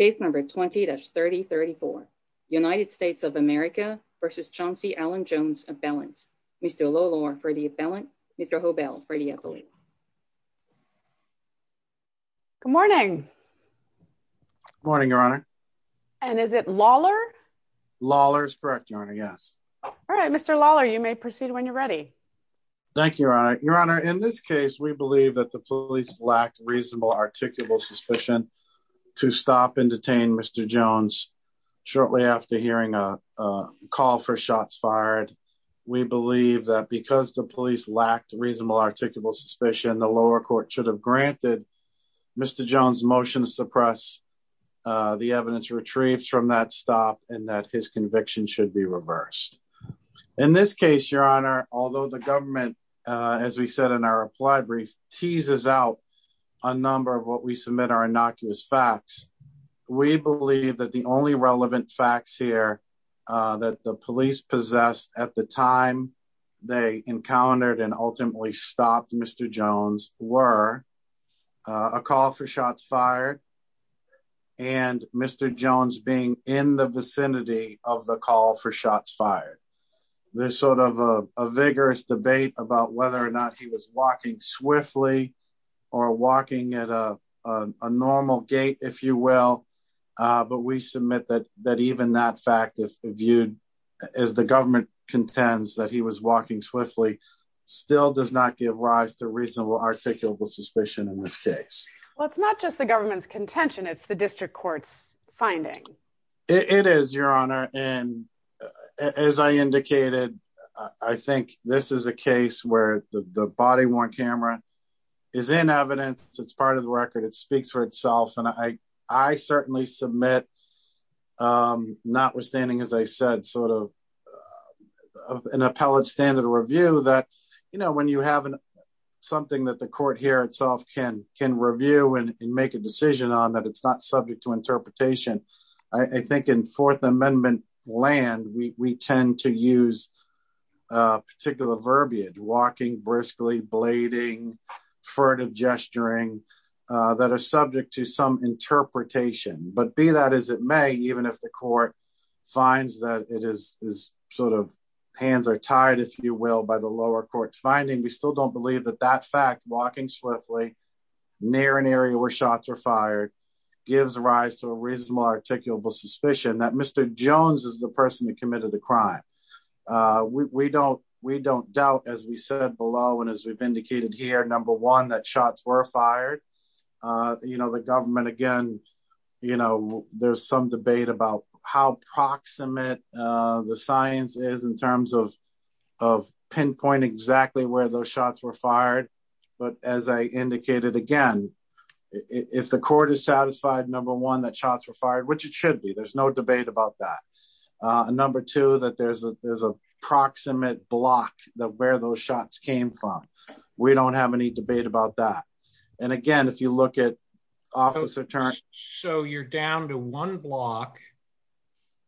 20-3034. United States of America v. Chauncey Allen Jones Appellant. Mr. Lollor for the appellant. Mr. Hobell for the appellant. Good morning. Good morning, Your Honor. And is it Lawler? Lawler is correct, Your Honor, yes. All right, Mr. Lawler, you may proceed when you're ready. Thank you, Your Honor. Your Honor, in this case, we believe that the police lacked reasonable articulable suspicion to stop and detain Mr. Jones shortly after hearing a call for shots fired. We believe that because the police lacked reasonable articulable suspicion, the lower court should have granted Mr. Jones motion to suppress the evidence retrieved from that stop and that his conviction should be reversed. In this case, Your Honor, although the government, as we said in our reply brief, teases out a number of what we submit are innocuous facts. We believe that the only relevant facts here that the police possessed at the time they encountered and ultimately stopped Mr. Jones were a call for shots fired and Mr. Jones being in the vicinity of the call for shots fired. This sort of a vigorous debate about whether or not he was walking swiftly or walking at a normal gait, if you will. But we submit that even that fact, if viewed as the government contends that he was walking swiftly, still does not give rise to reasonable articulable suspicion in this case. Well, it's not just the government's contention. It's the district court's finding. It is, Your Honor. And as I indicated, I think this is a case where the body worn camera is in evidence. It's part of the record. It speaks for itself. And I, I certainly submit, notwithstanding, as I said, sort of an appellate standard review that, you know, when you have something that the court here itself can can review and make a decision on that. It's not subject to interpretation. I think in Fourth Amendment land, we tend to use particular verbiage walking briskly, blading, furtive gesturing that are subject to some interpretation. But be that as it may, even if the court finds that it is sort of hands are tied, if you will, by the lower court's finding. We still don't believe that that fact walking swiftly near an area where shots are fired gives rise to a reasonable articulable suspicion that Mr. Jones is the person who committed the crime. We don't, we don't doubt as we said below and as we've indicated here number one that shots were fired. You know, the government again, you know, there's some debate about how proximate the science is in terms of, of pinpointing exactly where those shots were fired. But as I indicated, again, if the court is satisfied number one that shots were fired, which it should be, there's no debate about that. Number two that there's a there's a proximate block that where those shots came from. We don't have any debate about that. And again, if you look at officer turn. So you're down to one block,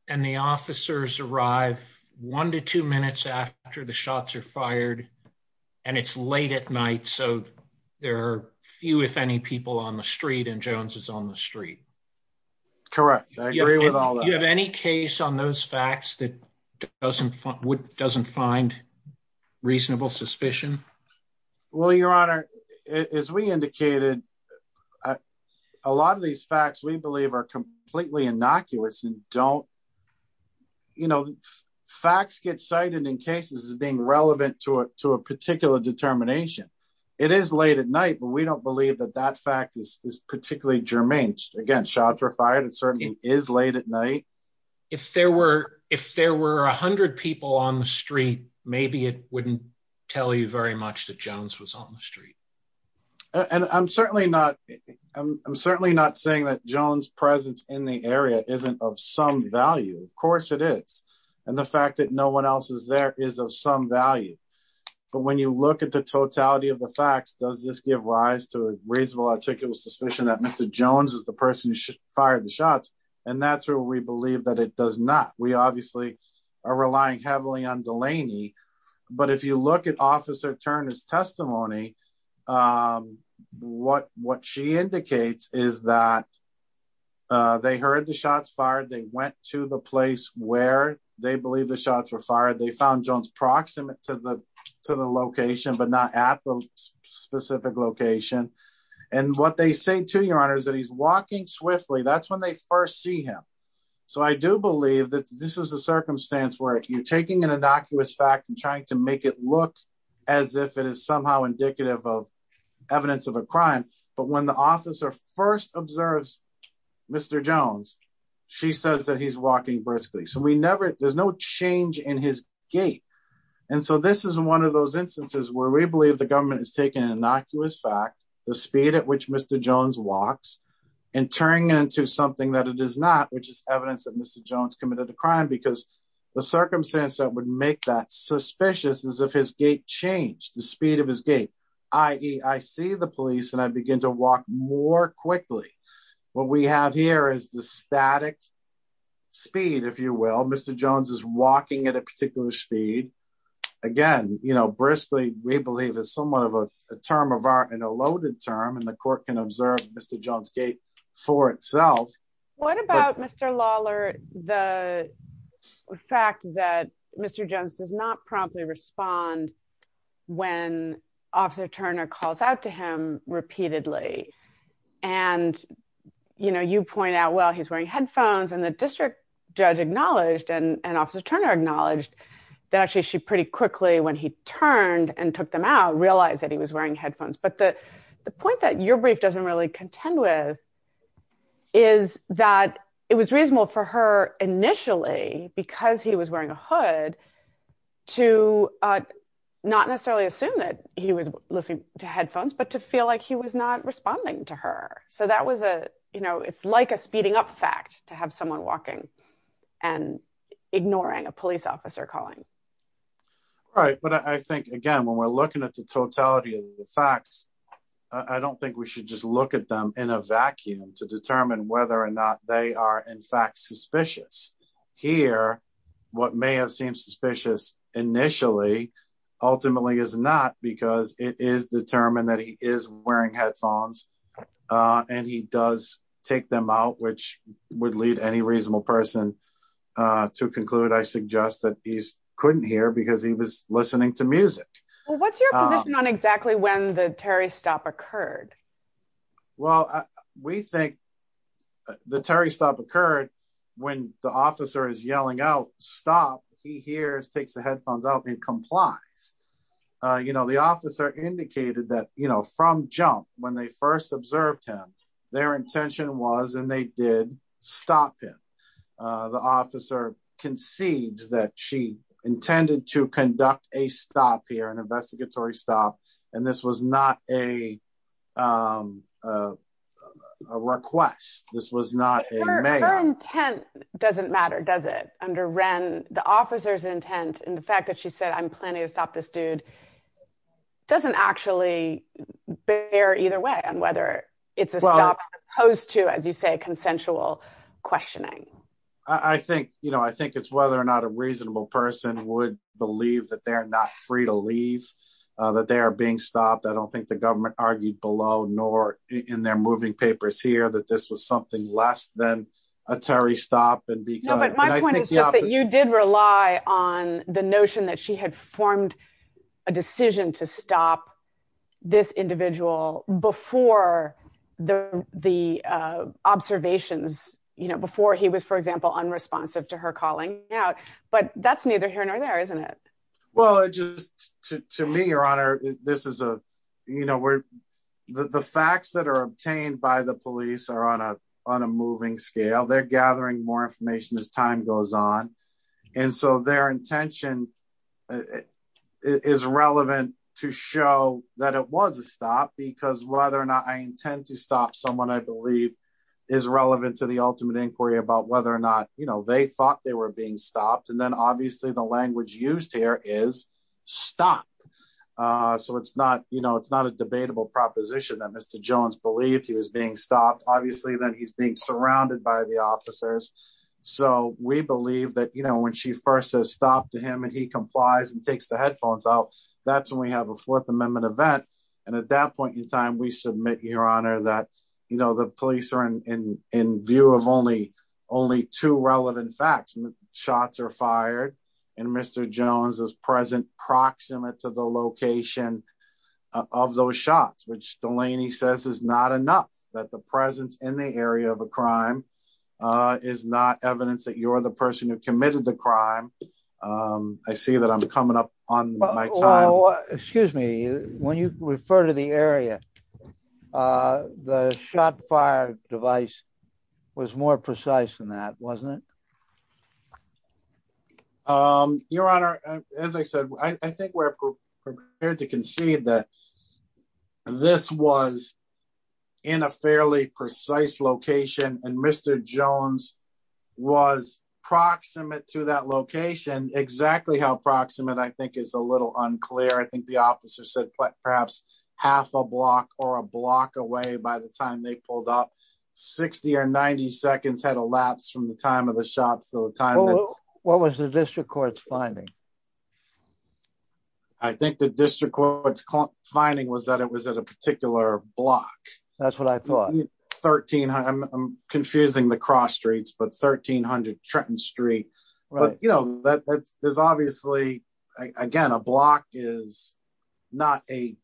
and the officers arrive, one to two minutes after the shots are fired. And it's late at night so there are few if any people on the street and Jones's on the street. Correct. You have any case on those facts that doesn't wouldn't doesn't find reasonable suspicion. Well, Your Honor, as we indicated, a lot of these facts we believe are completely innocuous and don't, you know, facts get cited in cases of being relevant to it to a particular determination. It is late at night but we don't believe that that fact is particularly germane against shots were fired and certainly is late at night. If there were, if there were 100 people on the street, maybe it wouldn't tell you very much that Jones was on the street. And I'm certainly not. I'm certainly not saying that Jones presence in the area isn't of some value, of course it is. And the fact that no one else is there is of some value. But when you look at the totality of the facts does this give rise to a reasonable article suspicion that Mr. Jones is the person who fired the shots, and that's where we believe that it does not, we obviously are relying heavily on Delaney. But if you look at Officer Turner's testimony. What, what she indicates is that they heard the shots fired they went to the place where they believe the shots were fired they found Jones proximate to the, to the location but not at the specific location. And what they say to your honors that he's walking swiftly that's when they first see him. So I do believe that this is a circumstance where you're taking an innocuous fact and trying to make it look as if it is somehow indicative of evidence of a crime, but when the officer first observes Mr. Jones. She says that he's walking briskly so we never, there's no change in his gate. And so this is one of those instances where we believe the government has taken an innocuous fact, the speed at which Mr. Jones walks and turning into something that it is not, which is evidence of Mr. crime because the circumstance that would make that suspicious as if his gate change the speed of his gate. I see the police and I begin to walk more quickly. What we have here is the static speed if you will Mr Jones is walking at a particular speed. Again, you know briskly, we believe is somewhat of a term of art and a loaded term and the court can observe Mr Jones gate for itself. What about Mr Lawler, the fact that Mr Jones does not promptly respond. When officer Turner calls out to him repeatedly. And, you know, you point out well he's wearing headphones and the district judge acknowledged and officer Turner acknowledged that actually she pretty quickly when he turned and took them out realize that he was wearing headphones but the, the point that your brief doesn't really contend with is that it was reasonable for her initially because he was wearing a hood to not necessarily assume that he was listening to headphones but to feel like he was not responding to her. So that was a, you know, it's like a speeding up fact to have someone walking and ignoring a police officer calling. Right, but I think again when we're looking at the totality of the facts. I don't think we should just look at them in a vacuum to determine whether or not they are in fact suspicious here. What may have seemed suspicious. Initially, ultimately is not because it is determined that he is wearing headphones, and he does take them out which would lead any reasonable person to conclude I suggest that he's couldn't hear because he was listening to music. What's your position on exactly when the Terry stop occurred. Well, we think the Terry stop occurred when the officer is yelling out, stop, he hears takes the headphones out and complies. You know the officer indicated that, you know, from jump when they first observed him, their intention was and they did stop him. The officer concedes that she intended to conduct a stop here and investigatory stop. And this was not a Request. This was not a Intent doesn't matter. Does it under Ren the officers intent and the fact that she said I'm planning to stop this dude. Doesn't actually bear either way on whether it's opposed to, as you say, consensual questioning. I think, you know, I think it's whether or not a reasonable person would believe that they're not free to leave that they are being stopped. I don't think the government argued below nor in their moving papers here that this was something less than a Terry stop and You did rely on the notion that she had formed a decision to stop this individual before the the observations, you know, before he was, for example, unresponsive to her calling out, but that's neither here nor there, isn't it. Well, just to me, Your Honor. This is a, you know, we're the facts that are obtained by the police are on a on a moving scale they're gathering more information as time goes on. And so their intention is relevant to show that it was a stop because whether or not I intend to stop someone I believe is relevant to the ultimate inquiry about whether or not you know they thought they were being stopped and then obviously the language used here is stop. So it's not, you know, it's not a debatable proposition that Mr. Jones believed he was being stopped, obviously, then he's being surrounded by the officers. So, we believe that you know when she first stopped him and he complies and takes the headphones out. That's when we have a Fourth Amendment event. And at that point in time we submit your honor that you know the police are in view of only only two relevant facts and shots are fired. And Mr. Jones is present proximate to the location of those shots which Delaney says is not enough that the presence in the area of a crime is not evidence that you're the person who committed the crime. I see that I'm coming up on my. Excuse me, when you refer to the area. The shot fire device was more precise than that wasn't it. Your Honor, as I said, I think we're prepared to concede that this was in a fairly precise location and Mr. Jones was proximate to that location exactly how proximate I think is a little unclear I think the officer said perhaps half a block or a block away by the time they pulled up 60 or 90 seconds had elapsed from the time of the shots the time. What was the district court's finding. I think the district court's finding was that it was at a particular block. That's what I thought 1300 confusing the cross streets but 1300 Trenton Street. There's obviously, again, a block is not a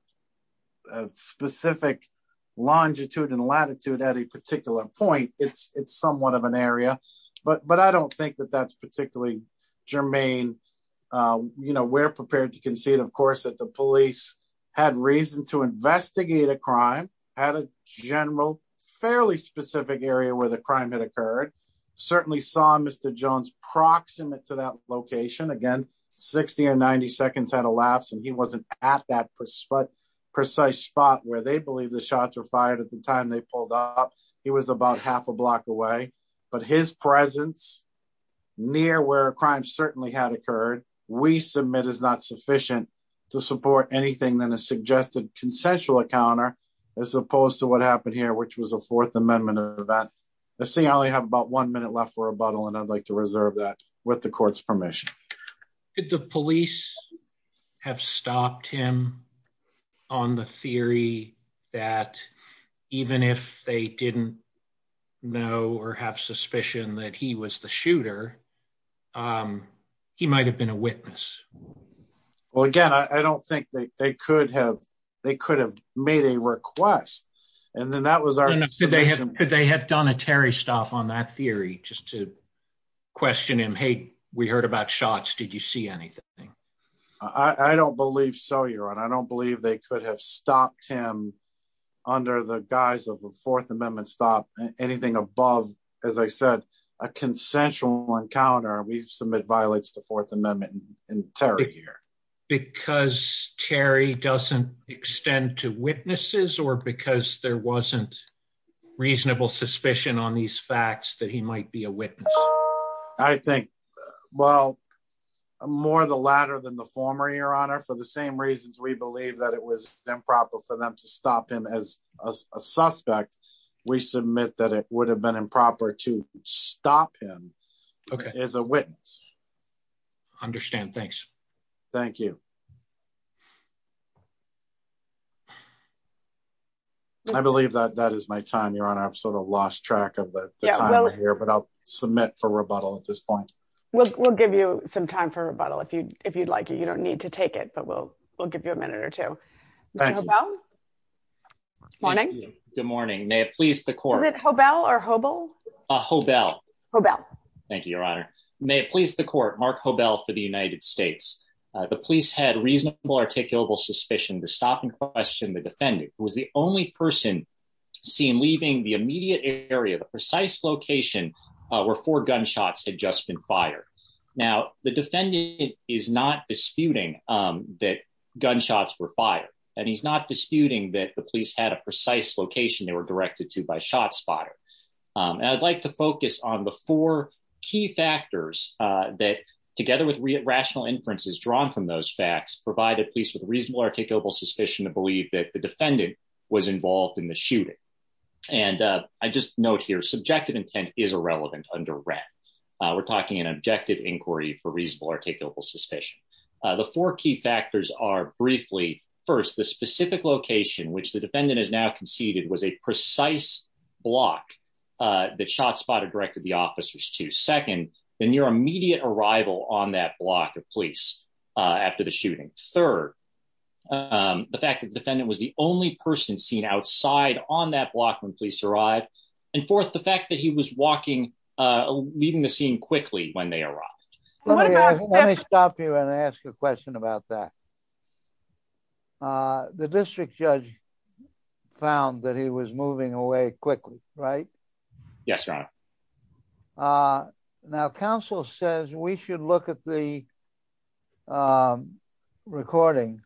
specific longitude and latitude at a particular point, it's, it's somewhat of an area, but but I don't think that that's particularly germane. You know we're prepared to concede of course that the police had reason to investigate a crime at a general fairly specific area where the crime had occurred. Certainly saw Mr. Jones proximate to that location again 60 or 90 seconds had elapsed and he wasn't at that precise precise spot where they believe the shots were fired at the time they pulled up. He was about half a block away, but his presence near where crimes certainly had occurred, we submit is not sufficient to support anything than a suggested consensual encounter, as opposed to what happened here which was a Fourth Amendment event. Let's see I only have about one minute left for a bottle and I'd like to reserve that with the court's permission. The police have stopped him on the theory that even if they didn't know or have suspicion that he was the shooter. He might have been a witness. Well, again, I don't think they could have, they could have made a request. And then that was our, they have done a Terry stop on that theory, just to question him Hey, we heard about shots Did you see anything. I don't believe so you're on I don't believe they could have stopped him under the guise of a Fourth Amendment stop anything above, as I said, a consensual encounter we submit violates the Fourth Amendment in terror here, because Terry doesn't extend to witnesses or because there wasn't reasonable suspicion on these facts that he might be a witness. I think, well, more the latter than the former your honor for the same reasons we believe that it was improper for them to stop him as a suspect, we submit that it would have been improper to stop him as a witness. Understand. Thanks. Thank you. I believe that that is my time you're on I've sort of lost track of here but I'll submit for rebuttal at this point, we'll give you some time for rebuttal if you if you'd like you don't need to take it but we'll, we'll give you a minute or two. Morning. Good morning, may it please the court at hobel or hobel hobel hobel. Thank you, Your Honor, may it please the court mark hobel for the United States. The police had reasonable articulable suspicion to stop and question the defendant was the only person seen leaving the immediate area the precise location where for gunshots adjustment fire. Now, the defendant is not disputing that gunshots were fired, and he's not disputing that the police had a precise location they were directed to by shot spotter. And I'd like to focus on the four key factors that together with rational inferences drawn from those facts provided police with reasonable articulable suspicion to believe that the defendant was involved in the shooting. And I just note here subjective intent is irrelevant under rent. We're talking an objective inquiry for reasonable articulable suspicion. The four key factors are briefly. First, the specific location which the defendant is now conceded was a precise block. The shot spotter directed the officers to second, then your immediate arrival on that block of police. After the shooting. Third, the fact that the defendant was the only person seen outside on that block when police arrived and forth the fact that he was walking, leaving the scene quickly when they arrived. Stop you and ask a question about that. The district judge found that he was moving away quickly. Right. Yes. Now Council says we should look at the recording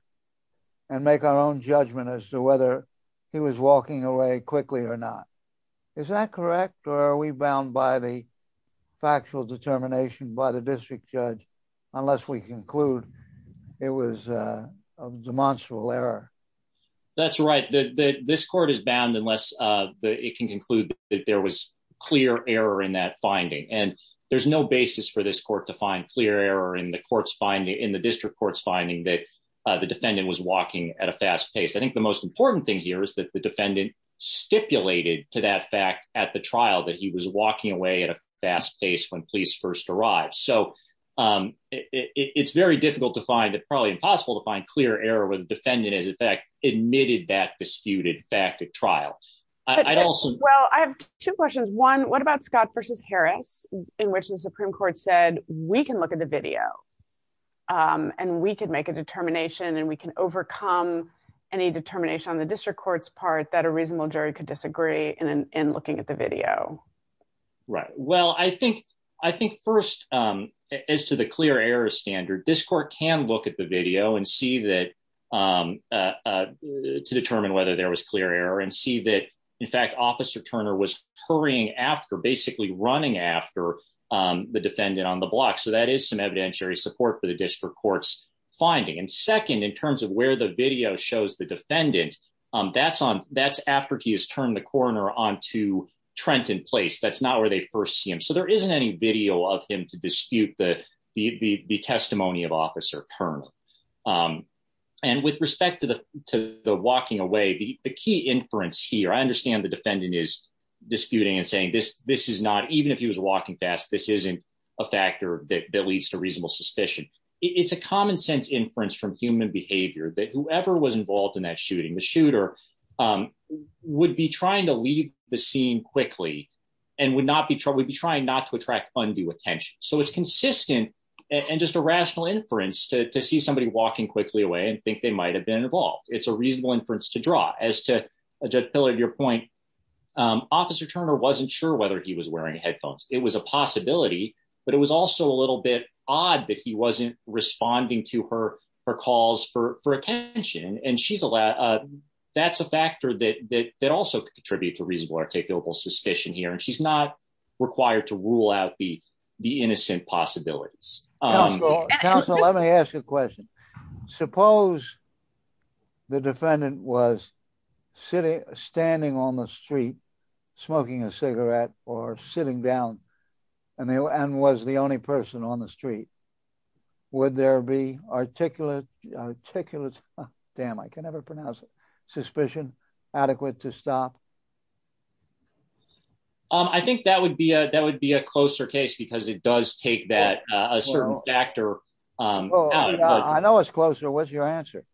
and make our own judgment as to whether he was walking away quickly or not. Is that correct or are we bound by the factual determination by the district judge, unless we conclude it was a demonstrable error. That's right. This court is bound unless it can conclude that there was clear error in that finding and there's no basis for this court to find clear error in the courts finding in the district courts finding that the defendant was walking at a fast pace. I think the most important thing here is that the defendant stipulated to that fact at the trial that he was walking away at a fast pace when police first arrived. So, it's very difficult to find it probably impossible to find clear error with defendant is in fact admitted that disputed fact at trial. I'd also well I have two questions. One, what about Scott versus Harris, in which the Supreme Court said, we can look at the video. And we can make a determination and we can overcome any determination on the district courts part that a reasonable jury could disagree in looking at the video. Right. Well, I think, I think, first, as to the clear error standard this court can look at the video and see that to determine whether there was clear error and see that in fact officer Turner was hurrying after basically running after the defendant on the block so that is some evidentiary support for the district courts finding and second in terms of where the video shows the defendant. That's on that's after he has turned the corner on to Trenton place that's not where they first see him so there isn't any video of him to dispute the, the testimony of officer Turner. And with respect to the, to the walking away the key inference here I understand the defendant is disputing and saying this, this is not even if he was walking fast this isn't a factor that leads to reasonable suspicion. It's a common sense inference from human behavior that whoever was involved in that shooting the shooter would be trying to leave the scene quickly, and would not be trying to be trying not to attract undue attention so it's consistent and just a rational inference to see somebody walking quickly away and think they might have been involved, it's a reasonable inference to draw as to a judge pillar your point. Officer Turner wasn't sure whether he was wearing headphones, it was a possibility, but it was also a little bit odd that he wasn't responding to her, her calls for attention and she's allowed. That's a factor that that also contribute to reasonable articulable suspicion here and she's not required to rule out the, the innocent possibilities. Let me ask you a question. Suppose the defendant was sitting, standing on the street, smoking a cigarette, or sitting down, and they were and was the only person on the street. Would there be articulate articulate. Damn I can never pronounce it suspicion adequate to stop. I think that would be a that would be a closer case because it does take that a certain factor. I know it's closer what's your answer.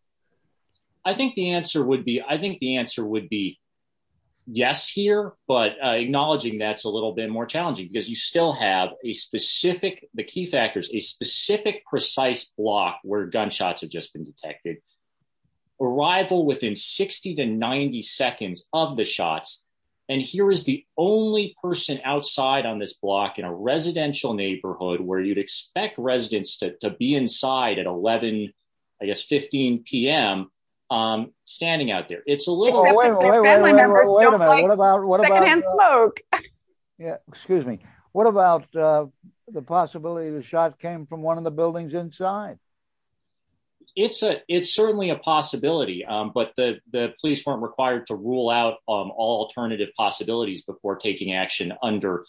I think the answer would be I think the answer would be yes here, but acknowledging that's a little bit more challenging because you still have a specific, the key factors is specific precise block where gunshots have just been detected arrival within 60 to 90 seconds of the shots. And here is the only person outside on this block in a residential neighborhood where you'd expect residents to be inside at 11, I guess 15pm. I'm standing out there, it's a little. Yeah, excuse me. What about the possibility of the shot came from one of the buildings inside. It's a, it's certainly a possibility, but the police weren't required to rule out all alternative possibilities before taking action under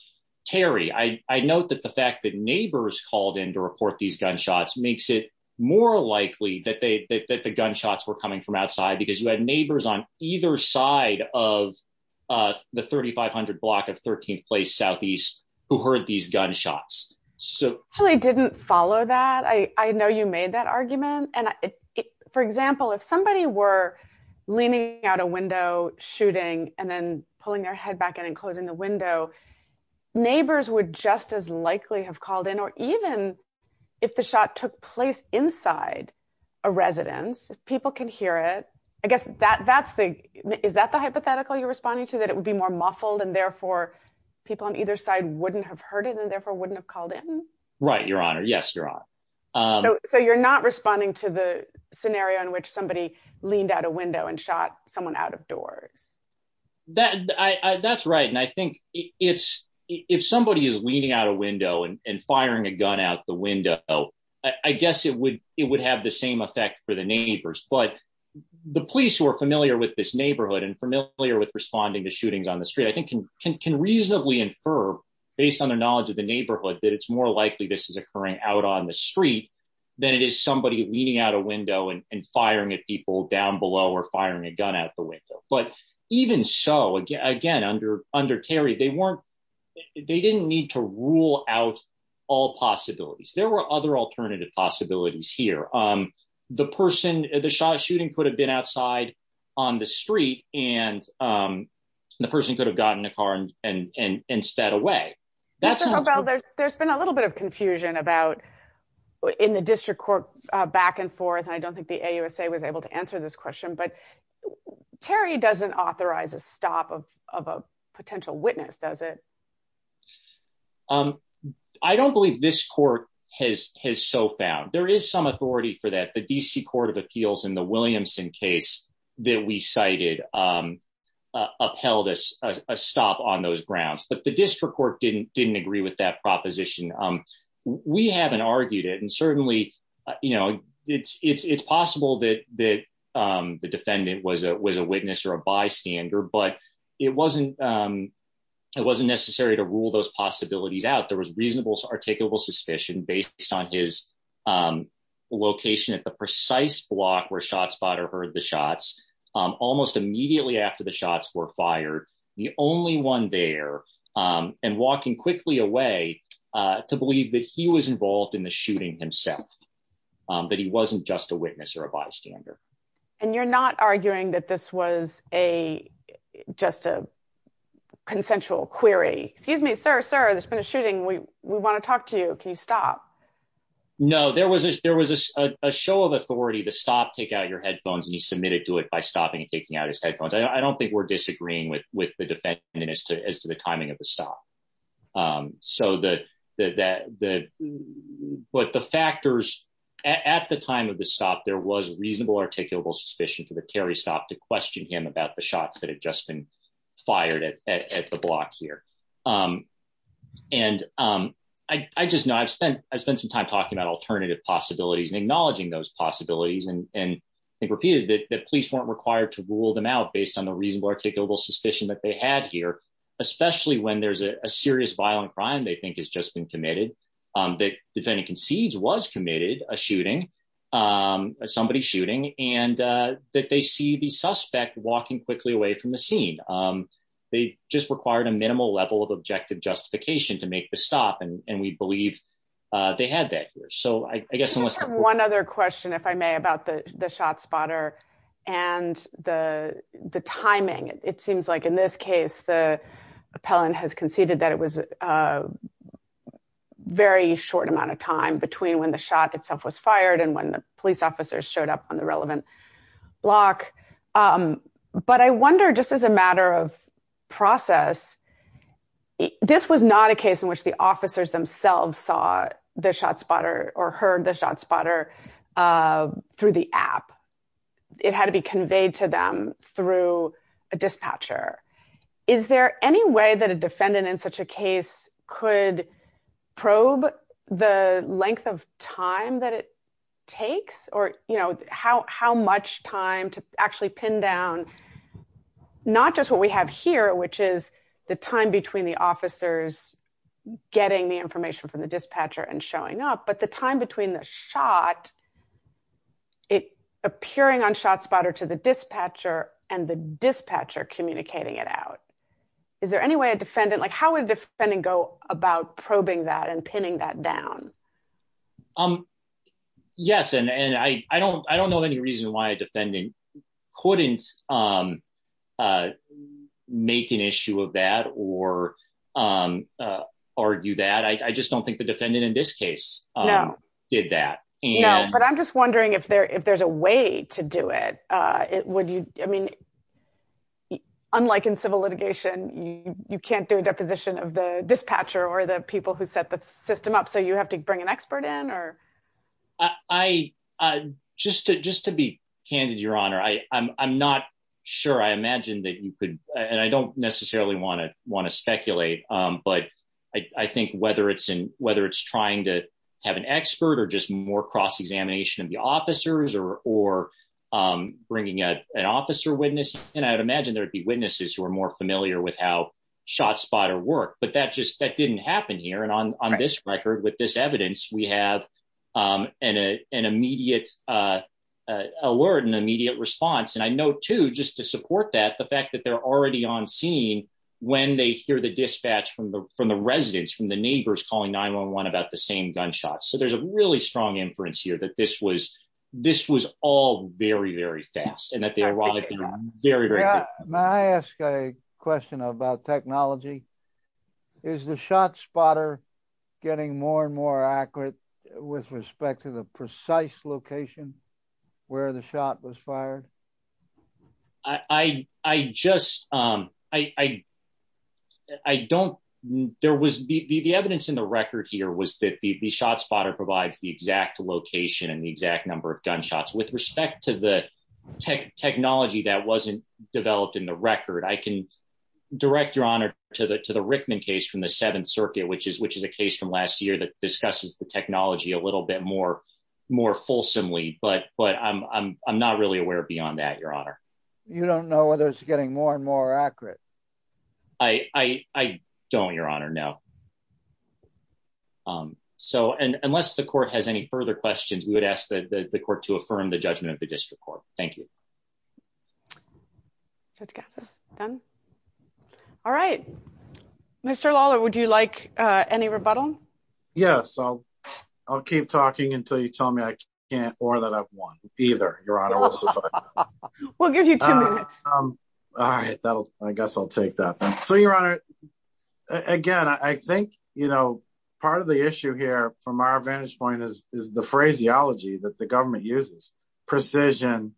Terry I note that the fact that neighbors called in to report these gunshots makes it more likely that they that the gunshots were coming from outside because you had neighbors on either side of the 3500 block of 13th place southeast, who heard these gunshots. So, I didn't follow that I know you made that argument and, for example, if somebody were leaning out a window, and then pulling their head back in and closing the window neighbors would just as likely have called in or even if the shot took place inside a residence, people can hear it. I guess that that's the, is that the hypothetical you're responding to that it would be more muffled and therefore people on either side wouldn't have heard it and therefore wouldn't have called in. Right, Your Honor. Yes, Your Honor. So you're not responding to the scenario in which somebody leaned out a window and shot someone out of doors. That's right. And I think it's if somebody is leaning out a window and firing a gun out the window. I guess it would, it would have the same effect for the neighbors but the police who are familiar with this neighborhood and familiar with responding to how likely this is occurring out on the street than it is somebody leading out a window and firing at people down below or firing a gun out the window, but even so again again under under Terry they weren't. They didn't need to rule out all possibilities there were other alternative possibilities here. The person, the shot shooting could have been outside on the street, and the person could have gotten a car and and and sped away. That's about there's been a little bit of confusion about in the district court, back and forth I don't think the USA was able to answer this question but Terry doesn't authorize a stop of a potential witness does it. I don't believe this court has has so found there is some authority for that the DC Court of Appeals and the Williamson case that we cited upheld us a stop on those grounds but the district court didn't didn't agree with that proposition. We haven't argued it and certainly, you know, it's it's it's possible that that the defendant was a was a witness or a bystander but it wasn't. It wasn't necessary to rule those possibilities out there was reasonable articulable suspicion based on his location at the precise block where shot spot or heard the shots. Almost immediately after the shots were fired. The only one there and walking quickly away to believe that he was involved in the shooting himself, that he wasn't just a witness or a bystander. And you're not arguing that this was a just a consensual query, excuse me, sir, sir, there's been a shooting we want to talk to you. Can you stop. No, there was there was a show of authority to stop take out your headphones and he submitted to it by stopping and taking out his headphones I don't think we're disagreeing with with the defense minister as to the timing of the stop. So the, the, the, what the factors at the time of the stop there was reasonable articulable suspicion for the Terry stop to question him about the shots that had just been fired at the block here. And I just know I've spent, I've spent some time talking about alternative possibilities and acknowledging those possibilities and and repeated that the police weren't required to rule them out based on the reasonable articulable suspicion that they had here, especially when there's a serious violent crime they think has just been committed. That defendant concedes was committed a shooting. Somebody shooting, and that they see the suspect walking quickly away from the scene. They just required a minimal level of objective justification to make the stop and we believe they had that here so I guess unless one other question if I may about the shot spotter, and the, the timing, it seems like in this case the appellant has conceded that it was a very short amount of time between when the shot itself was fired and when the police officers showed up on the relevant block. But I wonder just as a matter of process. This was not a case in which the officers themselves saw the shot spotter or heard the shot spotter through the app. It had to be conveyed to them through a dispatcher. Is there any way that a defendant in such a case could probe the length of time that it takes or, you know, how much time to actually pin down, not just what we have here which is the time between the officers, getting the information from the dispatcher and Is there any way a defendant like how would defend and go about probing that and pinning that down. Um, yes, and I don't I don't know any reason why defending couldn't make an issue of that or argue that I just don't think the defendant in this case. Did that, you know, but I'm just wondering if there if there's a way to do it. It would you, I mean, unlike in civil litigation, you can't do a deposition of the dispatcher or the people who set the system up so you have to bring an expert in or I just just to be candid, Your Honor, I, I'm not sure I imagine that you could, and I don't necessarily want to want to speculate, but I think whether it's in whether it's trying to have an expert or just more cross examination of the officers or or bringing an officer witness, and I would And I know to just to support that the fact that they're already on scene. When they hear the dispatch from the from the residents from the neighbors calling 911 about the same gunshots so there's a really strong inference here that this was this was all very, very fast and that they My ask a question about technology is the shot spotter getting more and more accurate with respect to the precise location where the shot was fired. I, I just, I don't. There was the evidence in the record here was that the shot spotter provides the exact location and the exact number of gunshots with respect to the tech technology that wasn't developed in the record I can direct your honor to the to the You don't know whether it's getting more and more accurate. I don't, Your Honor. No. So, and unless the court has any further questions we would ask that the court to affirm the judgment of the district court. Thank you. Done. All right. Mr Lawler would you like any rebuttal. Yes, I'll, I'll keep talking until you tell me I can't or that I've won either. All right, that'll, I guess I'll take that. So your honor. Again, I think, you know, part of the issue here from our vantage point is, is the phraseology that the government uses precision.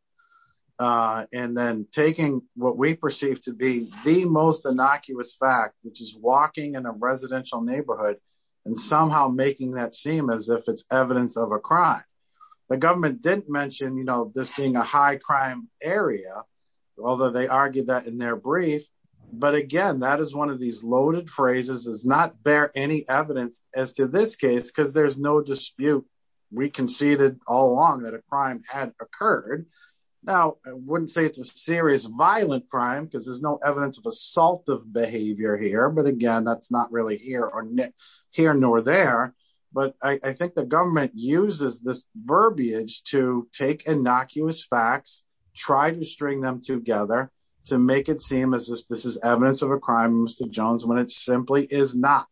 And then taking what we perceive to be the most innocuous fact which is walking in a residential neighborhood and somehow making that seem as if it's evidence of a crime. The government didn't mention you know this being a high crime area, although they argued that in their brief. But again, that is one of these loaded phrases does not bear any evidence as to this case because there's no dispute. We conceded all along that a crime had occurred. Now, I wouldn't say it's a serious violent crime because there's no evidence of assault of behavior here but again that's not really here or near here nor there, but I think the government uses this verbiage to take innocuous facts, try to string them together to make it seem as if this is evidence of a crime Mr Jones when it simply is not.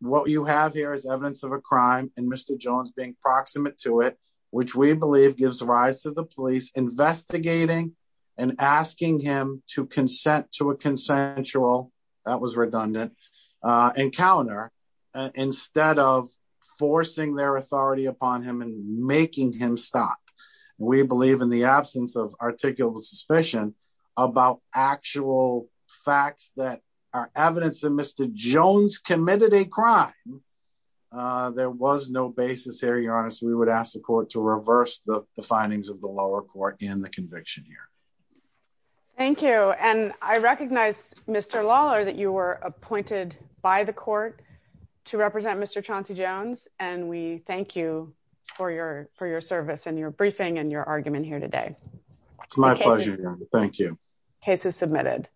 What you have here is evidence of a crime, and Mr Jones being proximate to it, which we believe gives rise to the police investigating and asking him to consent to a consensual. That was redundant encounter. Instead of forcing their authority upon him and making him stop. We believe in the absence of articulable suspicion about actual facts that are evidence that Mr Jones committed a crime. There was no basis area honest we would ask the court to reverse the findings of the lower court in the conviction here. Thank you. And I recognize, Mr Lawler that you were appointed by the court to represent Mr Chauncey Jones, and we thank you for your, for your service and your briefing and your argument here today. It's my pleasure. Thank you. Cases submitted.